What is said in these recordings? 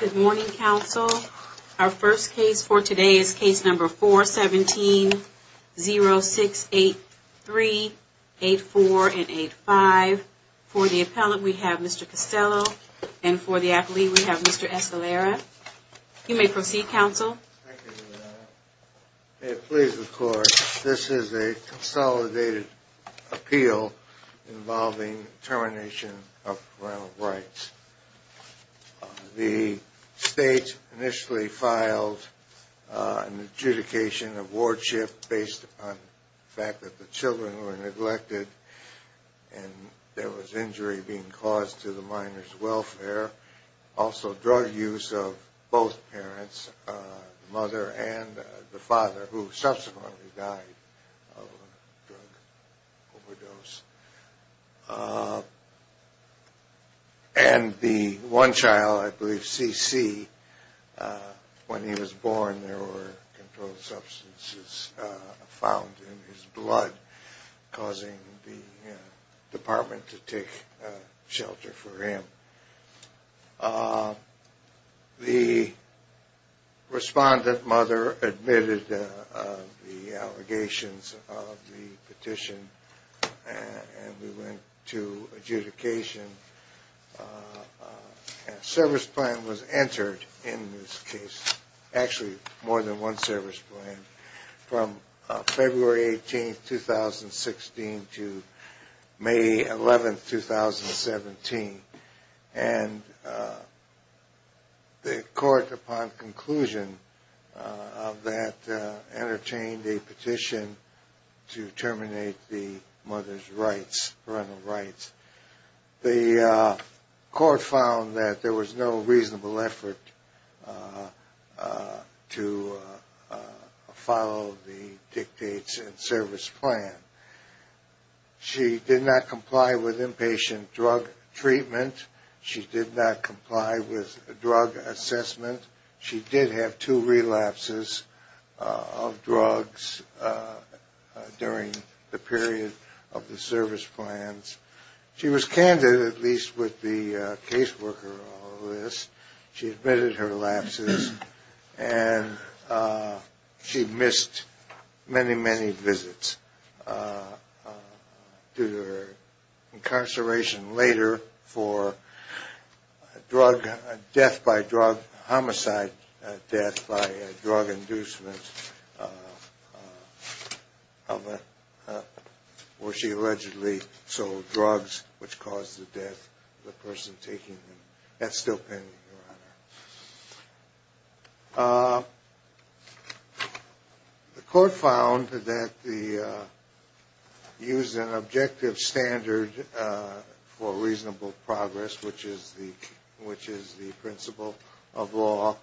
Good morning, counsel. Our first case for today is case number 417-0683-84 and 85. For the appellant, we have Mr. Costello, and for the athlete, we have Mr. Escalera. You may proceed, counsel. Thank you, Your Honor. May it please the Court, this is a consolidated appeal involving termination of parental rights. The state initially filed an adjudication of wardship based on the fact that the children were neglected and there was injury being caused to the minor's welfare. Also, drug use of both parents, the mother and the father, who subsequently died of a drug overdose. And the one child, I believe C.C., when he was born, there were controlled substances found in his blood, causing the department to take shelter for him. The respondent mother admitted the allegations of the petition and we went to adjudication. A service plan was entered in this case, actually more than one service plan, from February 18, 2016 to May 11, 2017. And the court, upon conclusion of that, entertained a petition to terminate the mother's rights, parental rights. The court found that there was no reasonable effort to follow the dictates and service plan. She did not comply with inpatient drug treatment. She did not comply with drug assessment. She did have two relapses of drugs during the period of the service plans. She was candid, at least with the caseworker on the list. She admitted her lapses and she missed many, many visits due to her incarceration later for drug, death by drug, homicide death by drug inducement of a, where she allegedly sold drugs. Which caused the death of the person taking them. That's still pending, Your Honor. The court found that the, used an objective standard for reasonable progress, which is the principle of law.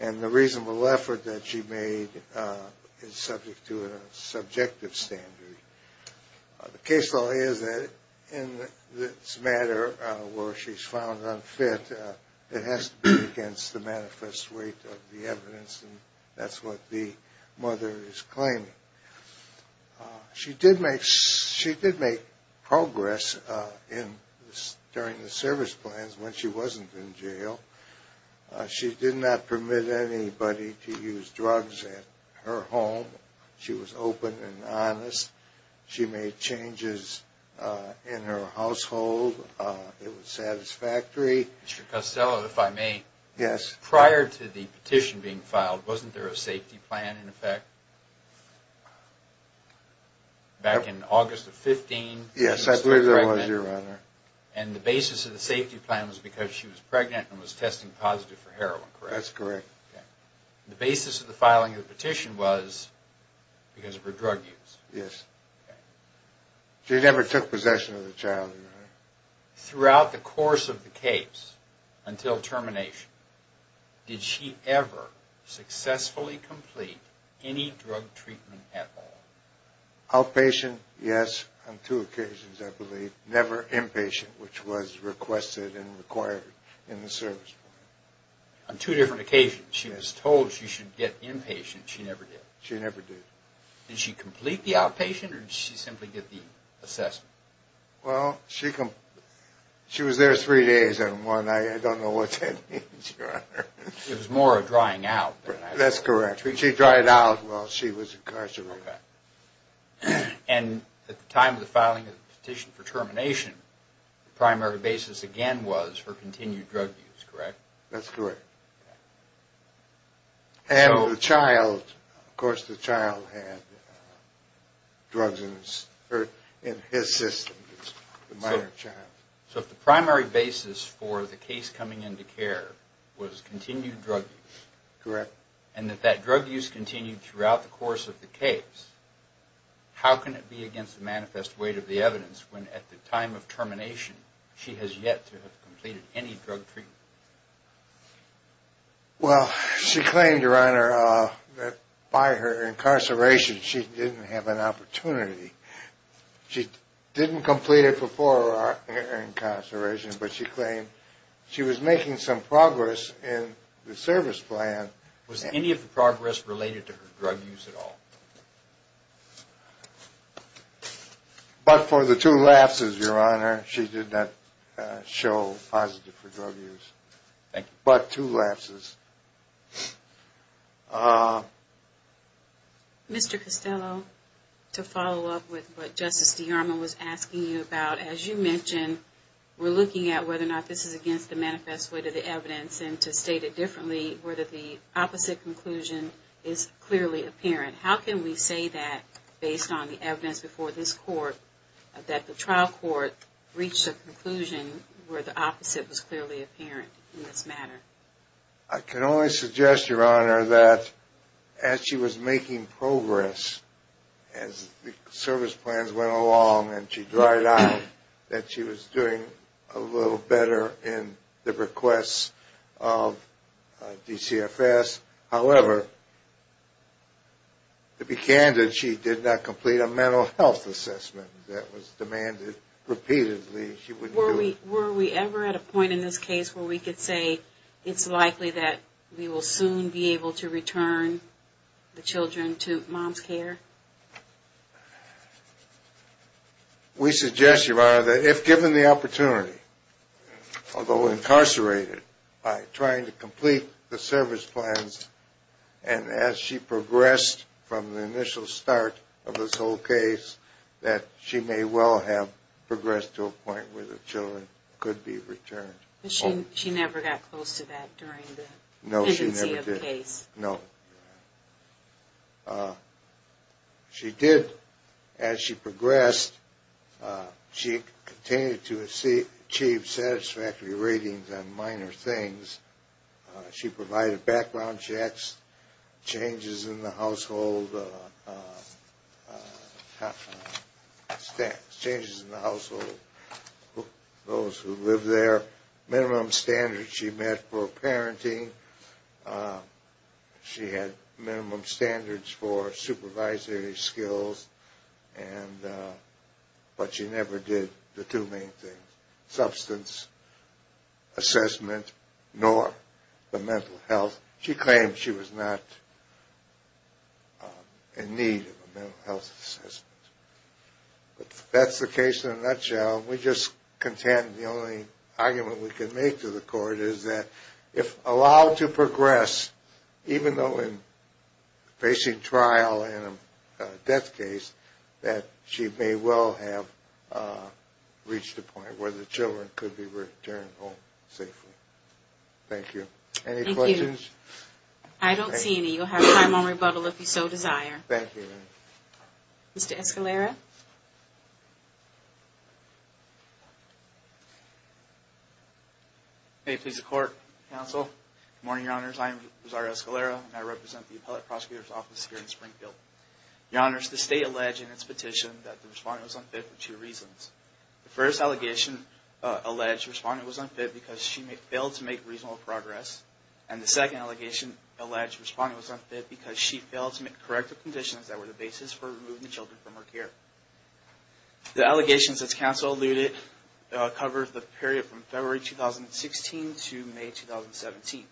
And the reasonable effort that she made is subject to a subjective standard. The case law is that in this matter, where she's found unfit, it has to be against the manifest weight of the evidence. And that's what the mother is claiming. She did make, she did make progress in, during the service plans when she wasn't in jail. She did not permit anybody to use drugs at her home. She was open and honest. She made changes in her household. It was satisfactory. Mr. Costello, if I may. Yes. Prior to the petition being filed, wasn't there a safety plan in effect? Back in August of 15? Yes, I believe there was, Your Honor. And the basis of the safety plan was because she was pregnant and was testing positive for heroin, correct? That's correct. The basis of the filing of the petition was because of her drug use. Yes. She never took possession of the child, Your Honor. Throughout the course of the case, until termination, did she ever successfully complete any drug treatment at all? Outpatient, yes. On two occasions, I believe. Never inpatient, which was requested and required in the service plan. On two different occasions, she was told she should get inpatient. She never did. She never did. Did she complete the outpatient or did she simply get the assessment? Well, she was there three days and one night. I don't know what that means, Your Honor. It was more of drying out. That's correct. She dried out while she was incarcerated. And at the time of the filing of the petition for termination, the primary basis again was for continued drug use, correct? That's correct. And the child, of course the child had drugs in his system, the minor child. So if the primary basis for the case coming into care was continued drug use and that that drug use continued throughout the course of the case, how can it be against the manifest weight of the evidence when at the time of termination she has yet to have completed any drug treatment? Well, she claimed, Your Honor, that by her incarceration she didn't have an opportunity. She didn't complete it before her incarceration, but she claimed she was making some progress in the service plan. Was any of the progress related to her drug use at all? But for the two lapses, Your Honor, she did not show positive for drug use. Thank you. But two lapses. Mr. Costello, to follow up with what Justice DeArmond was asking you about, as you mentioned, we're looking at whether or not this is against the manifest weight of the evidence and to state it differently, whether the opposite conclusion is clearly apparent. How can we say that based on the evidence before this court that the trial court reached a conclusion where the opposite was clearly apparent in this matter? I can only suggest, Your Honor, that as she was making progress, as the service plans went along and she dried out, that she was doing a little better in the requests of DCFS. However, to be candid, she did not complete a mental health assessment that was demanded repeatedly. Were we ever at a point in this case where we could say it's likely that we will soon be able to return the children to mom's care? We suggest, Your Honor, that if given the opportunity, although incarcerated, by trying to complete the service plans and as she progressed from the initial start of this whole case, that she may well have progressed to a point where the children could be returned. But she never got close to that during the pendency of the case? No. She did, as she progressed, she continued to achieve satisfactory ratings on minor things. She provided background checks, changes in the household, those who lived there, minimum standards she met for parenting, she had minimum standards for supervisory skills. But she never did the two main things, substance assessment nor the mental health. She claimed she was not in need of a mental health assessment. That's the case in a nutshell. We just contend the only argument we can make to the court is that if allowed to progress, even though in facing trial and a death case, that she may well have reached a point where the children could be returned home safely. Thank you. Any questions? I don't see any. You'll have time on rebuttal if you so desire. Thank you. Mr. Escalera? May it please the court, counsel. Good morning, Your Honors. I am Rizario Escalera and I represent the Appellate Prosecutor's Office here in Springfield. Your Honors, the state alleged in its petition that the respondent was unfit for two reasons. The first allegation alleged the respondent was unfit because she failed to make reasonable progress. And the second allegation alleged the respondent was unfit because she failed to meet corrective conditions that were the basis for removing the children from her care. The allegations, as counsel alluded, cover the period from February 2016 to May 2017.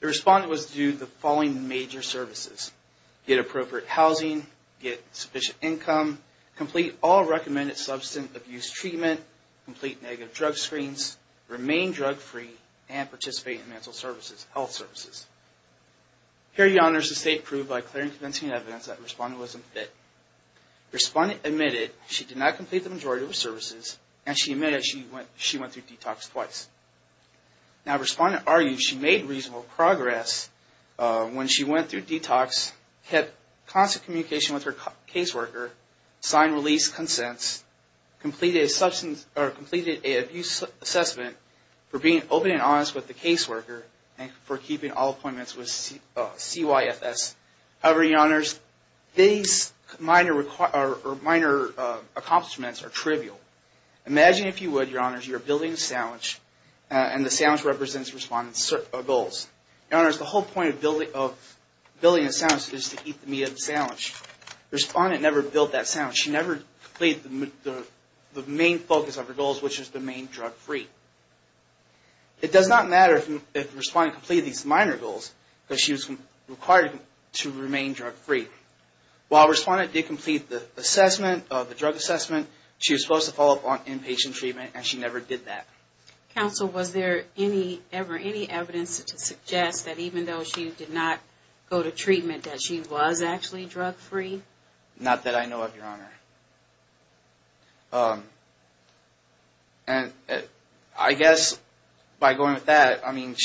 The respondent was due the following major services. Get appropriate housing, get sufficient income, complete all recommended substance abuse treatment, complete negative drug screens, remain drug-free, and participate in mental health services. Here, Your Honors, the state proved by clear and convincing evidence that the respondent was unfit. The respondent admitted she did not complete the majority of her services and she admitted she went through detox twice. Now, the respondent argued she made reasonable progress when she went through detox, kept constant communication with her caseworker, signed release consents, completed a substance abuse assessment for being open and honest with the caseworker, and for keeping all appointments with CYFS. However, Your Honors, these minor accomplishments are trivial. Imagine if you would, Your Honors, you're building a sandwich and the sandwich represents the respondent's goals. Your Honors, the whole point of building a sandwich is to eat the meat of the sandwich. The respondent never built that sandwich. She never completed the main focus of her goals, which is to remain drug-free. It does not matter if the respondent completed these minor goals because she was required to remain drug-free. While the respondent did complete the assessment, the drug assessment, she was supposed to follow up on inpatient treatment and she never did that. Counsel, was there ever any evidence to suggest that even though she did not go to treatment that she was actually drug-free? Not that I know of, Your Honor. And I guess by going with that, I mean,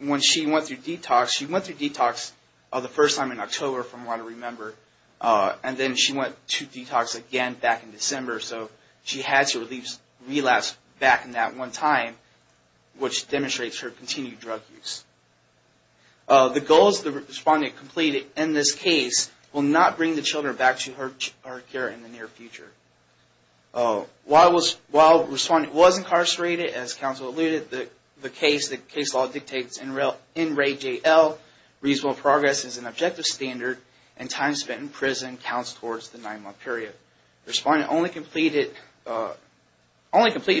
when she went through detox, she went through detox the first time in October, from what I remember, and then she went to detox again back in December, so she had to release relapse back in that one time, which demonstrates her continued drug use. The goals the respondent completed in this case will not bring the children back to her care in the near future. While the respondent was incarcerated, as counsel alluded, the case law dictates NRAJL, reasonable progress is an objective standard, and time spent in prison counts towards the nine-month period. The respondent only completed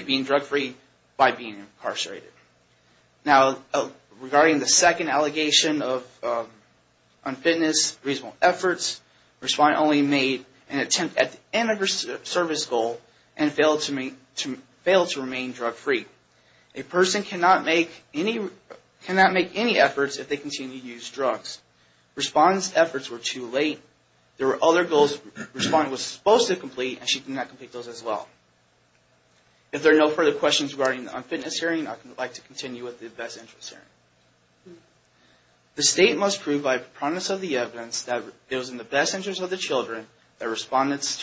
being drug-free by being incarcerated. Now, regarding the second allegation of unfitness, reasonable efforts, the respondent only made an attempt at the end of her service goal and failed to remain drug-free. A person cannot make any efforts if they continue to use drugs. The respondent's efforts were too late. There were other goals the respondent was supposed to complete, and she did not complete those as well. If there are no further questions regarding the unfitness hearing, I would like to continue with the best interest hearing. The State must prove by promise of the evidence that it was in the best interest of the children that the respondent's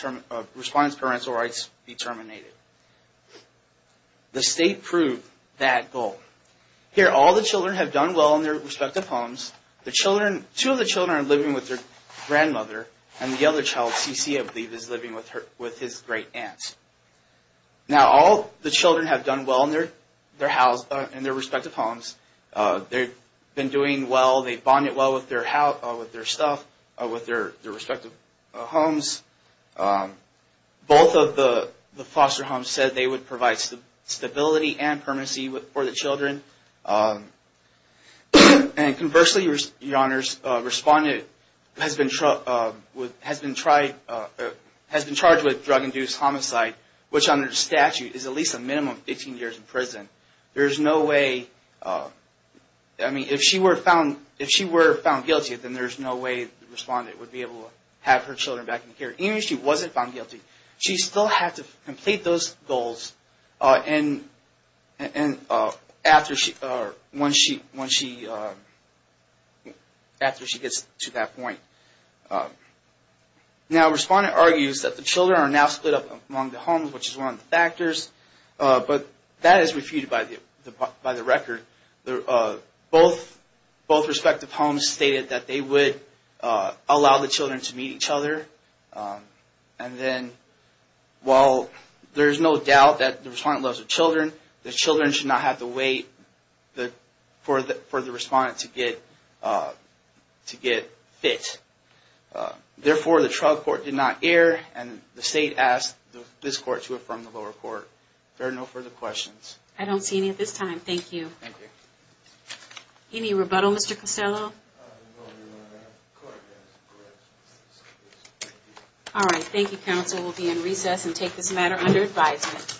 parental rights be terminated. The State proved that goal. Here, all the children have done well in their respective homes. Two of the children are living with their grandmother, and the other child, Cece, I believe, is living with his great-aunt. Now, all the children have done well in their respective homes. They've been doing well. They've bonded well with their stuff, with their respective homes. Both of the foster homes said they would provide stability and permanency for the children. Conversely, the respondent has been charged with drug-induced homicide, which under the statute is at least a minimum of 15 years in prison. If she were found guilty, then there's no way the respondent would be able to have her children back in the care. Even if she wasn't found guilty, she still had to complete those goals. And after she gets to that point. Now, a respondent argues that the children are now split up among the homes, which is one of the factors. But that is refuted by the record. Both respective homes stated that they would allow the children to meet each other. And then, while there's no doubt that the respondent loves her children, the children should not have to wait for the respondent to get fit. Therefore, the trial court did not err, and the state asked this court to affirm the lower court. If there are no further questions. I don't see any at this time. Thank you. Thank you. Any rebuttal, Mr. Costello? All right. Thank you, counsel. We'll be in recess and take this matter under advisement.